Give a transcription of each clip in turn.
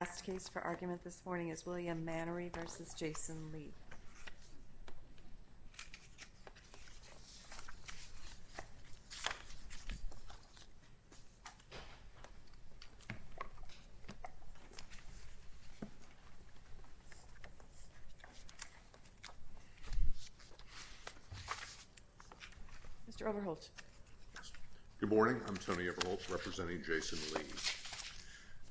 The last case for argument this morning is William Manery v. Jason Lee. Mr. Overholt. Good morning. I'm Tony Overholt representing Jason Lee.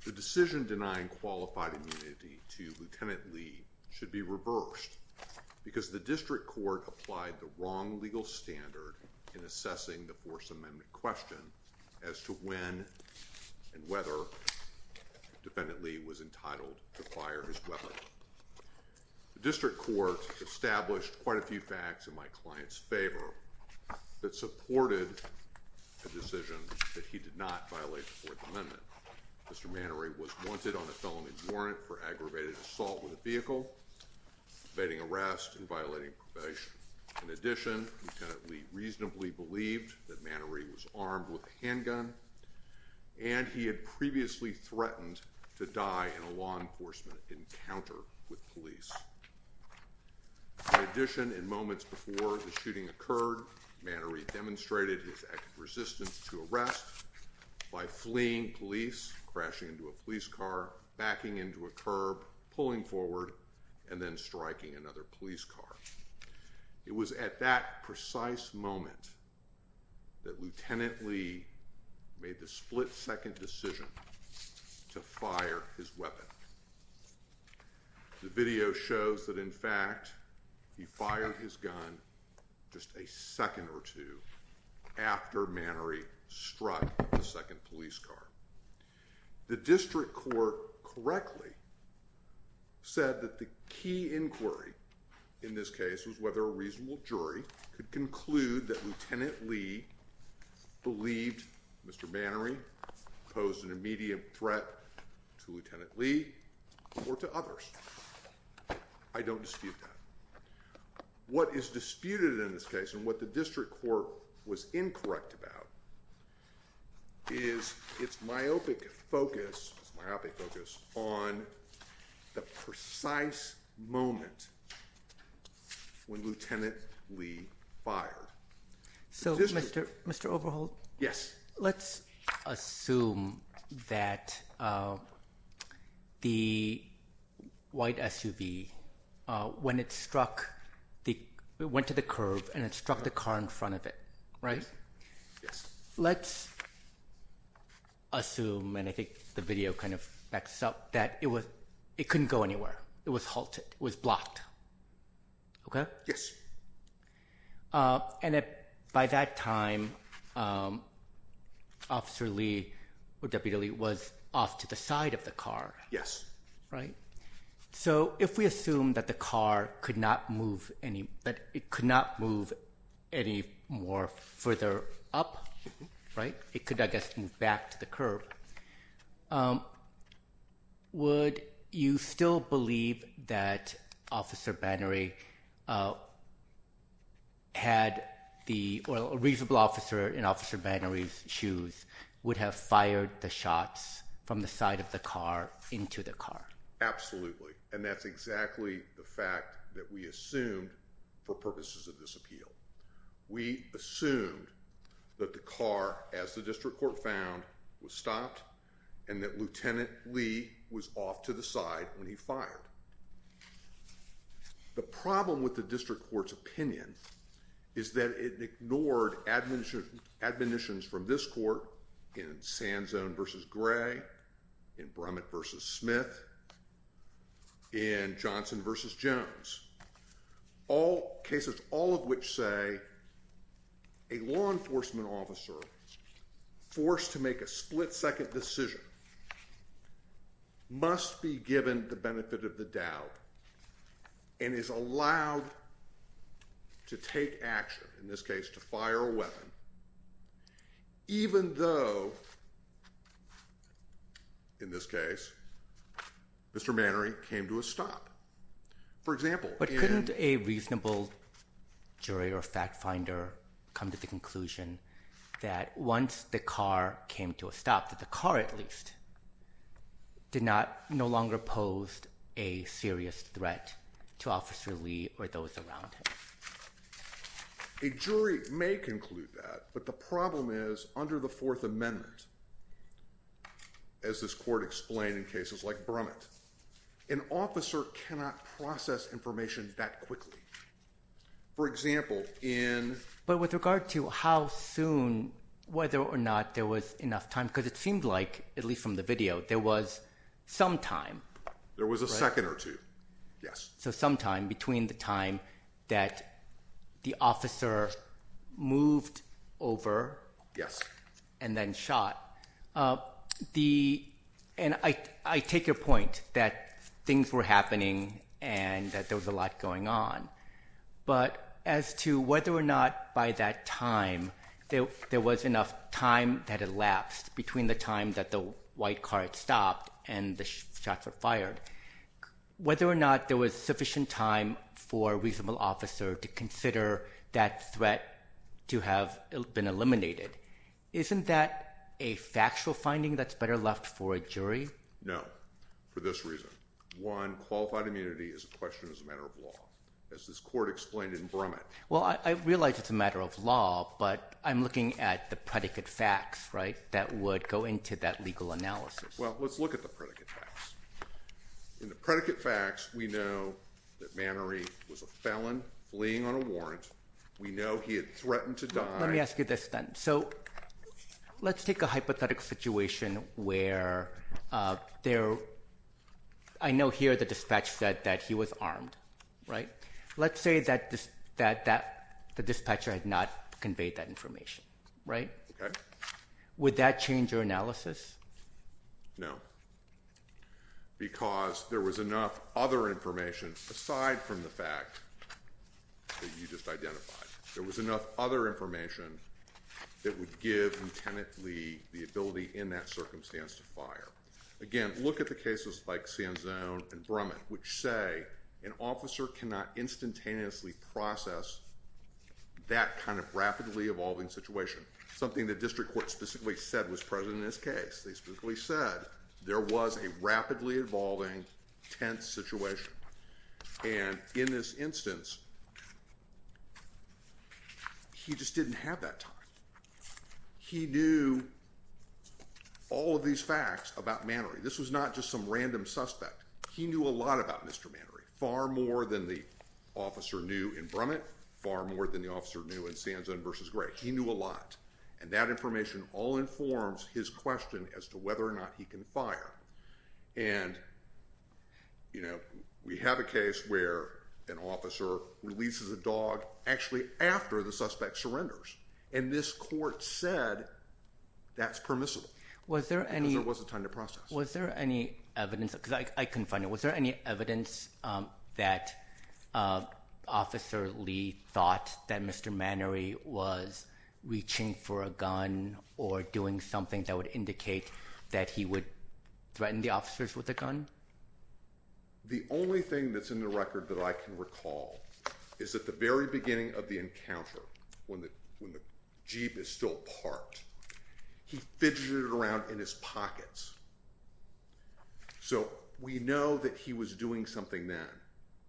The decision denying qualified immunity to Lt. Lee should be reversed because the District Court applied the wrong legal standard in assessing the Fourth Amendment question as to when and whether Lt. Lee was entitled to fire his weapon. The District Court established quite a few facts in my client's favor that supported a decision that he did not violate the Fourth Amendment. Mr. Manery was wanted on a felony warrant for aggravated assault with a vehicle, evading arrest, and violating probation. In addition, Lt. Lee reasonably believed that Manery was armed with a handgun and he had previously threatened to die in a law enforcement encounter with police. In addition, in moments before the shooting occurred, Manery demonstrated his active resistance to arrest by fleeing police, crashing into a police car, backing into a curb, pulling forward, and then striking another police car. It was at that precise moment that Lt. Lee made the split-second decision to fire his weapon. The video shows that, in fact, he fired his gun just a second or two after Manery struck the second police car. The District Court correctly said that the key inquiry in this case was whether a reasonable jury could conclude that Lt. Lee believed Mr. Manery posed an immediate threat to Lt. Lee or to others. I don't dispute that. What is disputed in this case and what the District Court was incorrect about is its myopic focus on the precise moment when Lt. Lee fired. So, Mr. Overholt, let's assume that the white SUV, when it struck, it went to the curb and it struck the car in front of it, right? Let's assume, and I think the video kind of backs up, that it couldn't go anywhere. It was halted. It was blocked. Okay? Yes. And by that time, Officer Lee, or W.W. Lee, was off to the side of the car. Yes. Right? So, if we assume that the car could not move any, that it could not move any more further up, right, it could, I guess, move back to the curb, would you still believe that Officer Bannery had the, or a reasonable officer in Officer Bannery's shoes would have fired the shots from the side of the car into the car? Absolutely. And that's exactly the fact that we assumed for purposes of this appeal. We assumed that the car, as the District Court found, was stopped and that Lt. Lee was off to the side when he fired. The problem with the District Court's opinion is that it ignored admonitions from this court in Sand Zone v. Gray, in Brummett v. Smith, in Johnson v. Jones, cases all of which say that a law enforcement officer forced to make a split-second decision must be given the benefit of the doubt and is allowed to take action, in this case, to fire a weapon, even though, in this case, Mr. Bannery came to a stop. For example, in— Would a reasonable jury or fact-finder come to the conclusion that once the car came to a stop, that the car, at least, did not—no longer posed a serious threat to Officer Lee or those around him? A jury may conclude that, but the problem is, under the Fourth Amendment, as this court explained in cases like Brummett, an officer cannot process information that quickly. For example, in— But with regard to how soon, whether or not there was enough time, because it seemed like, at least from the video, there was some time, right? There was a second or two, yes. So some time between the time that the officer moved over and then shot. The—and I take your point that things were happening and that there was a lot going on, but as to whether or not, by that time, there was enough time that elapsed between the time that the white car had stopped and the shots were fired, whether or not there was sufficient time for a reasonable officer to consider that threat to have been eliminated, isn't that a factual finding that's better left for a jury? No, for this reason. One, qualified immunity is a question as a matter of law, as this court explained in Brummett. Well, I realize it's a matter of law, but I'm looking at the predicate facts, right, that would go into that legal analysis. Well, let's look at the predicate facts. In the predicate facts, we know that Mannery was a felon fleeing on a warrant. We know he had threatened to die. Let me ask you this then. So let's take a hypothetical situation where there—I know here the dispatch said that he was armed, right? Let's say that the dispatcher had not conveyed that information, right? Okay. Would that change your analysis? No, because there was enough other information aside from the fact that you just identified. There was enough other information that would give him tentatively the ability in that circumstance to fire. Again, look at the cases like Sand Zone and Brummett, which say an officer cannot instantaneously process that kind of rapidly evolving situation, something the district court specifically said was present in this case. They specifically said there was a rapidly evolving, tense situation. And in this instance, he just didn't have that time. He knew all of these facts about Mannery. This was not just some random suspect. He knew a lot about Mr. Mannery, far more than the officer knew in Brummett, far more than the officer knew in Sand Zone v. Gray. He knew a lot. And that information all informs his question as to whether or not he can fire. And we have a case where an officer releases a dog actually after the suspect surrenders. And this court said that's permissible because there wasn't time to process. Was there any evidence? Because I couldn't find it. Was there any evidence that Officer Lee thought that Mr. Mannery was reaching for a gun or doing something that would indicate that he would threaten the officers with a gun? The only thing that's in the record that I can recall is at the very beginning of the encounter, when the jeep is still parked, he fidgeted around in his pockets. So we know that he was doing something then.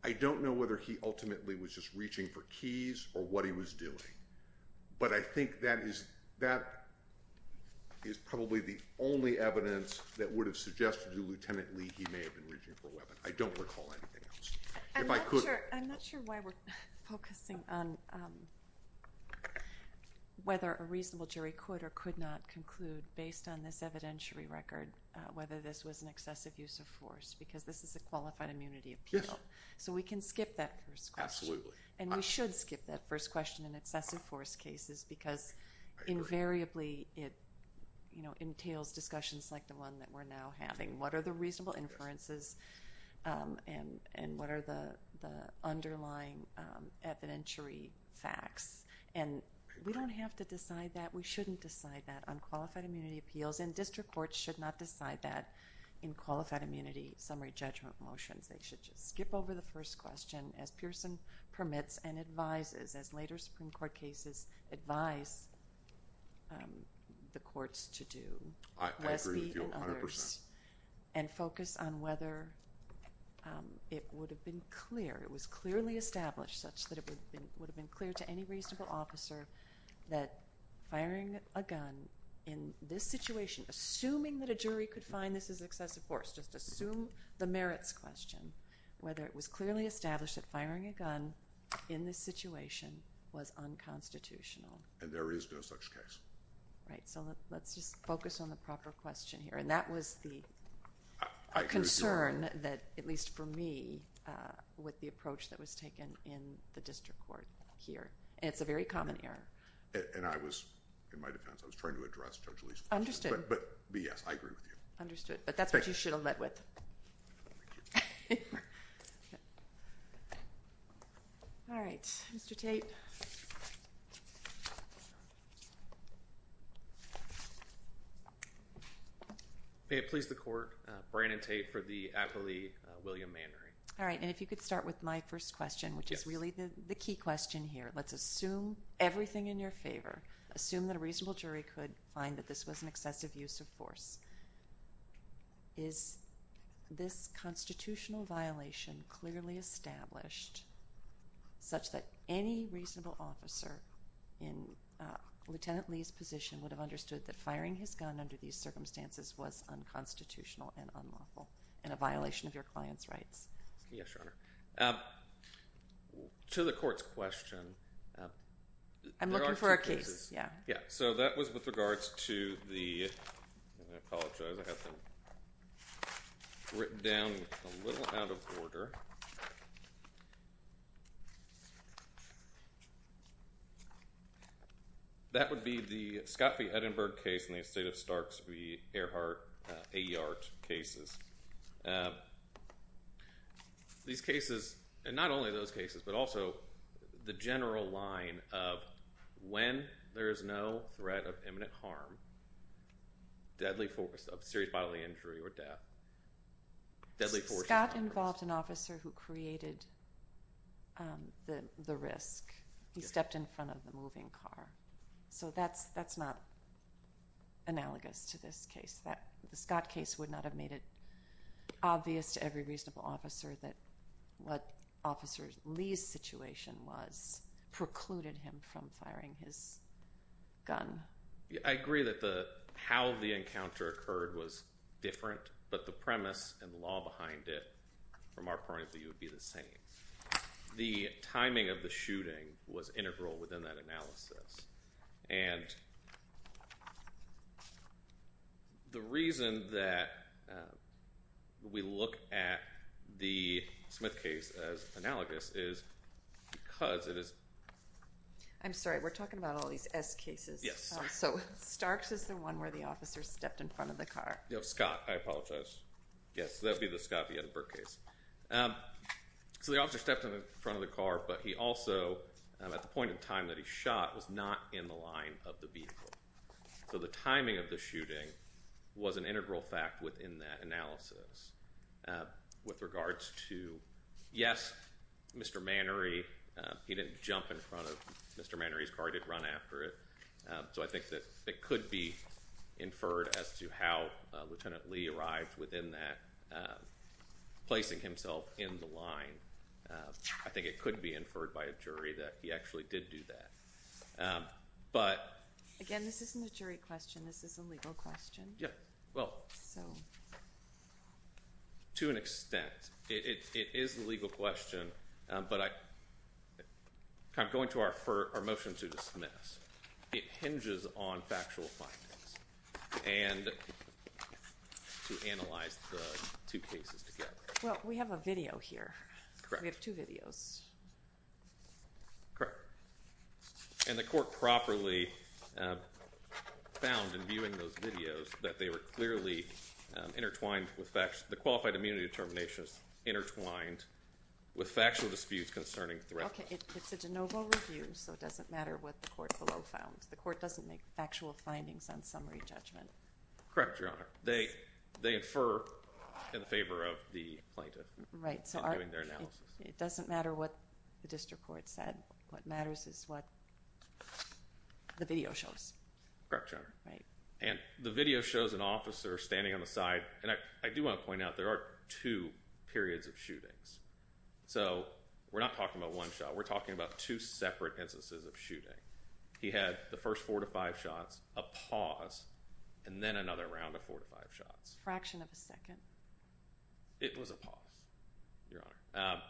I don't know whether he ultimately was just reaching for keys or what he was doing. But I think that is probably the only evidence that would have suggested to Lieutenant Lee he may have been reaching for a weapon. I don't recall anything else. I'm not sure why we're focusing on whether a reasonable jury could or could not conclude based on this evidentiary record whether this was an excessive use of force because this is a qualified immunity appeal. So we can skip that first question. Absolutely. And we should skip that first question in excessive force cases because invariably it entails discussions like the one that we're now having. What are the reasonable inferences and what are the underlying evidentiary facts? And we don't have to decide that. We shouldn't decide that on qualified immunity appeals. And district courts should not decide that in qualified immunity summary judgment motions. They should just skip over the first question as Pearson permits and advises as later Supreme Court cases advise the courts to do. I agree with you 100%. And focus on whether it would have been clear. It was clearly established such that it would have been clear to any reasonable officer that firing a gun in this situation, assuming that a jury could find this is excessive force, just assume the merits question, whether it was clearly established that firing a gun in this situation was unconstitutional. And there is no such case. Right. So let's just focus on the proper question here. And that was the concern that, at least for me, with the approach that was taken in the district court here. And it's a very common error. And I was, in my defense, I was trying to address Judge Lee's question. Understood. But B, yes, I agree with you. Understood. But that's what you should have led with. All right. Mr. Tate. May it please the Court, Brandon Tate for the acquittee, William Manry. All right. And if you could start with my first question, which is really the key question here. Let's assume everything in your favor. Assume that a reasonable jury could find that this was an excessive use of force. Is this constitutional violation clearly established such that any reasonable officer in Lieutenant Lee's position would have understood that firing his gun under these circumstances was unconstitutional and unlawful and a violation of your client's rights? Yes, Your Honor. To the Court's question, there are two cases. I'm looking for a case. Yeah. So that was with regards to the, I apologize, I have them written down a little out of order. That would be the Scott v. Edinburgh case and the estate of Starks v. Earhart A. Yart cases. These cases, and not only those cases, but also the general line of when there is no threat of imminent harm, deadly force of serious bodily injury or death, deadly force. Scott involved an officer who created the risk. He stepped in front of the moving car. So that's not analogous to this case. The Scott case would not have made it obvious to every reasonable officer that what Officer Lee's situation was precluded him from firing his gun. I agree that how the encounter occurred was different, but the premise and the law behind it, from our point of view, would be the same. The timing of the shooting was integral within that analysis. And the reason that we look at the Smith case as analogous is because it is. I'm sorry. We're talking about all these S cases. So Starks is the one where the officer stepped in front of the car. Scott, I apologize. Yes. That would be the Scott v. Edinburgh case. So the officer stepped in front of the car, but he also, at the point in time that he shot, was not in the line of the vehicle. So the timing of the shooting was an integral fact within that analysis. With regards to, yes, Mr. Mannery, he didn't jump in front of Mr. Mannery's car. He didn't run after it. So I think that it could be inferred as to how Lieutenant Lee arrived within that, placing himself in the line. I think it could be inferred by a jury that he actually did do that. Again, this isn't a jury question. This is a legal question. Yes. Well, to an extent, it is a legal question, but I'm going to our motion to dismiss. It hinges on factual findings and to analyze the two cases together. Well, we have a video here. Correct. We have two videos. Correct. And the court properly found in viewing those videos that they were clearly intertwined with facts. The qualified immunity determination is intertwined with factual disputes concerning threats. Okay. It's a de novo review, so it doesn't matter what the court below found. The court doesn't make factual findings on summary judgment. Correct, Your Honor. They infer in favor of the plaintiff in doing their analysis. It doesn't matter what the district court said. What matters is what the video shows. Correct, Your Honor. Right. And the video shows an officer standing on the side, and I do want to point out there are two periods of shootings. So we're not talking about one shot. We're talking about two separate instances of shooting. He had the first four to five shots, a pause, and then another round of four to five shots. Fraction of a second. It was a pause, Your Honor.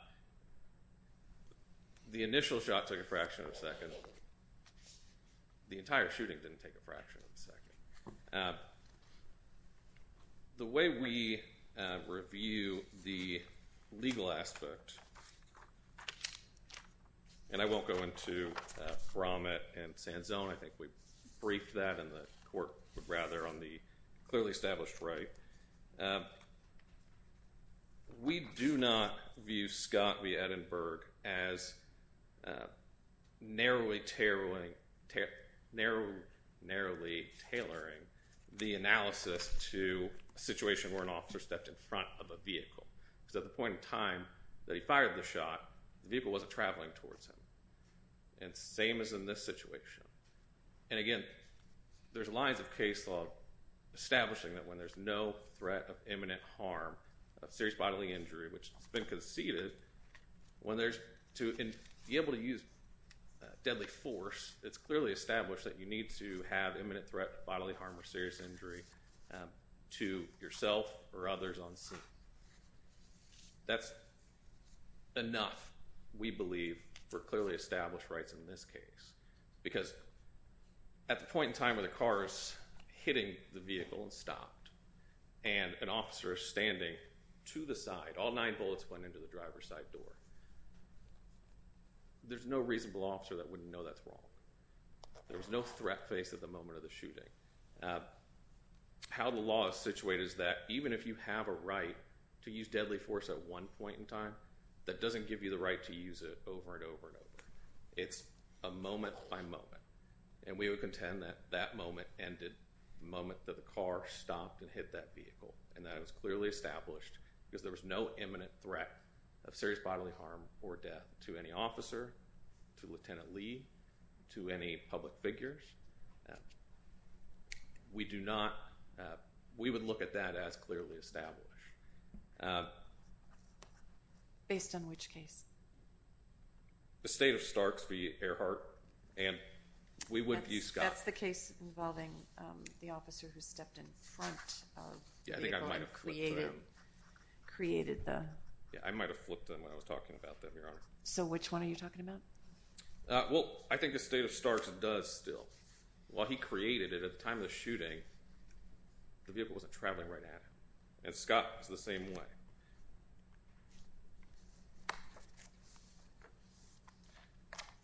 The initial shot took a fraction of a second. The entire shooting didn't take a fraction of a second. The way we review the legal aspect, and I won't go into Brommett and Sanzone. I think we briefed that, and the court would rather on the clearly established right. We do not view Scott v. Edinburgh as narrowly tailoring the analysis to a situation where an officer stepped in front of a vehicle. Because at the point in time that he fired the shot, the vehicle wasn't traveling towards him. And same as in this situation. And again, there's lines of case law establishing that when there's no threat of imminent harm, of serious bodily injury, which has been conceded, when there's, to be able to use deadly force, it's clearly established that you need to have imminent threat of bodily harm or serious injury to yourself or others on scene. That's enough, we believe, for clearly established rights in this case. Because at the point in time where the car is hitting the vehicle and stopped, and an officer is standing to the side, all nine bullets went into the driver's side door, there's no reasonable officer that wouldn't know that's wrong. There's no threat face at the moment of the shooting. How the law is situated is that even if you have a right to use deadly force at one point in time, that doesn't give you the right to use it over and over and over. It's a moment by moment. And we would contend that that moment ended the moment that the car stopped and hit that vehicle. And that is clearly established because there was no imminent threat of serious bodily harm or death to any officer, to Lieutenant Lee, to any public figures. We do not, we would look at that as clearly established. Based on which case? The State of Starks v. Earhart, and we would use Scott. That's the case involving the officer who stepped in front of the vehicle and created the... Yeah, I might have flipped them when I was talking about them, Your Honor. So which one are you talking about? Well, I think the State of Starks does still. While he created it, at the time of the shooting, the vehicle wasn't traveling right at him. And Scott was the same way.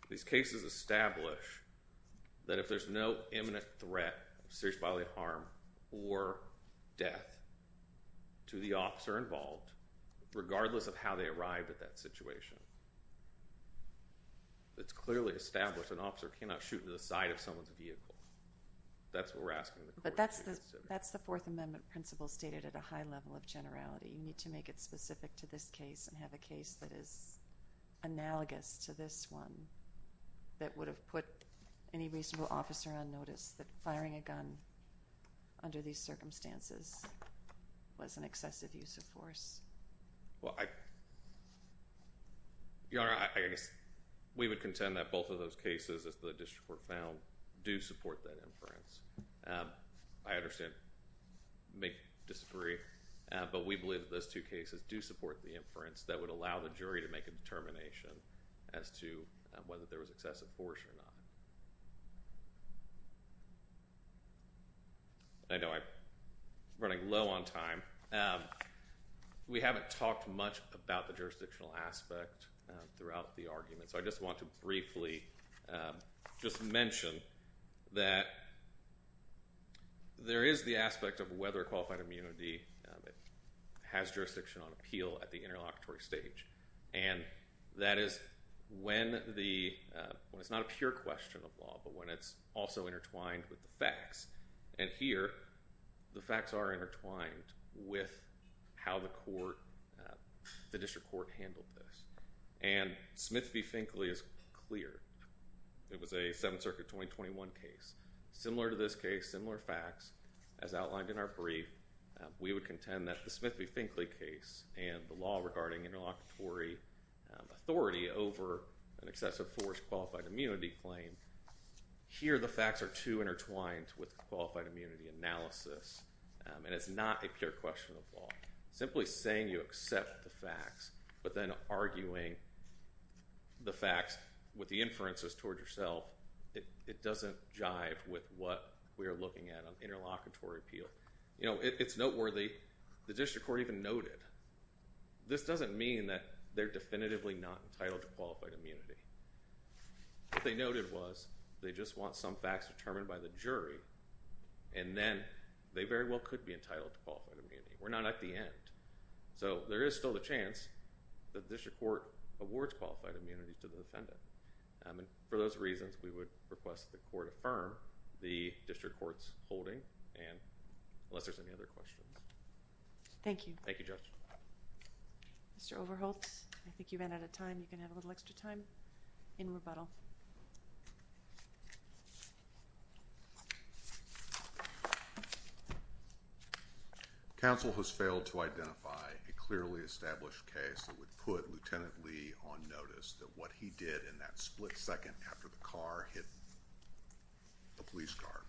These cases establish that if there's no imminent threat of serious bodily harm or death to the officer involved, regardless of how they arrived at that situation, it's clearly established an officer cannot shoot into the side of someone's vehicle. That's what we're asking the court to consider. But that's the Fourth Amendment principle stated at a high level of generality. You need to make it specific to this case and have a case that is analogous to this one that would have put any reasonable officer on notice that firing a gun under these circumstances was an excessive use of force. Your Honor, we would contend that both of those cases, as the district court found, do support that inference. I understand, may disagree, but we believe that those two cases do support the inference that would allow the jury to make a determination as to whether there was excessive force or not. I know I'm running low on time. We haven't talked much about the jurisdictional aspect throughout the argument, so I just want to briefly mention that there is the aspect of whether a qualified immunity has jurisdiction on appeal at the interlocutory stage. And that is when it's not a pure question of law, but when it's also intertwined with the facts. And here, the facts are intertwined with how the district court handled this. And Smith v. Finkley is clear. It was a Seventh Circuit 2021 case. Similar to this case, similar facts. As outlined in our brief, we would contend that the Smith v. Finkley case and the law regarding interlocutory authority over an excessive force qualified immunity claim, here the facts are too intertwined with qualified immunity analysis. And it's not a pure question of law. Simply saying you accept the facts, but then arguing the facts with the inferences toward yourself, it doesn't jive with what we are looking at on interlocutory appeal. It's noteworthy, the district court even noted, this doesn't mean that they're definitively not entitled to qualified immunity. What they noted was, they just want some facts determined by the jury, and then they very well could be entitled to qualified immunity. We're not at the end. So, there is still a chance that the district court awards qualified immunity to the defendant. And for those reasons, we would request the court affirm the district court's holding, and unless there's any other questions. Thank you. Thank you, Judge. Mr. Overholtz, I think you ran out of time. You can have a little extra time in rebuttal. Thank you. Counsel has failed to identify a clearly established case that would put Lieutenant Lee on notice that what he did in that split second after the car hit the police car,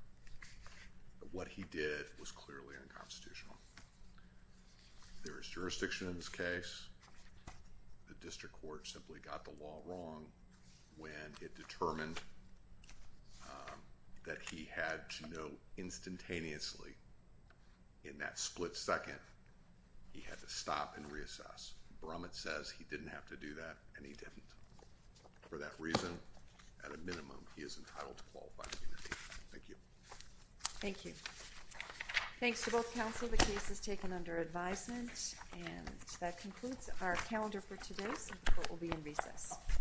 that what he did was clearly unconstitutional. There is jurisdiction in this case. The district court simply got the law wrong when it determined that he had to know instantaneously. In that split second, he had to stop and reassess. Brummett says he didn't have to do that, and he didn't. For that reason, at a minimum, he is entitled to qualified immunity. Thank you. Thank you. Thanks to both counsel. The case is taken under advisement, and that concludes our calendar for today. The court will be in recess.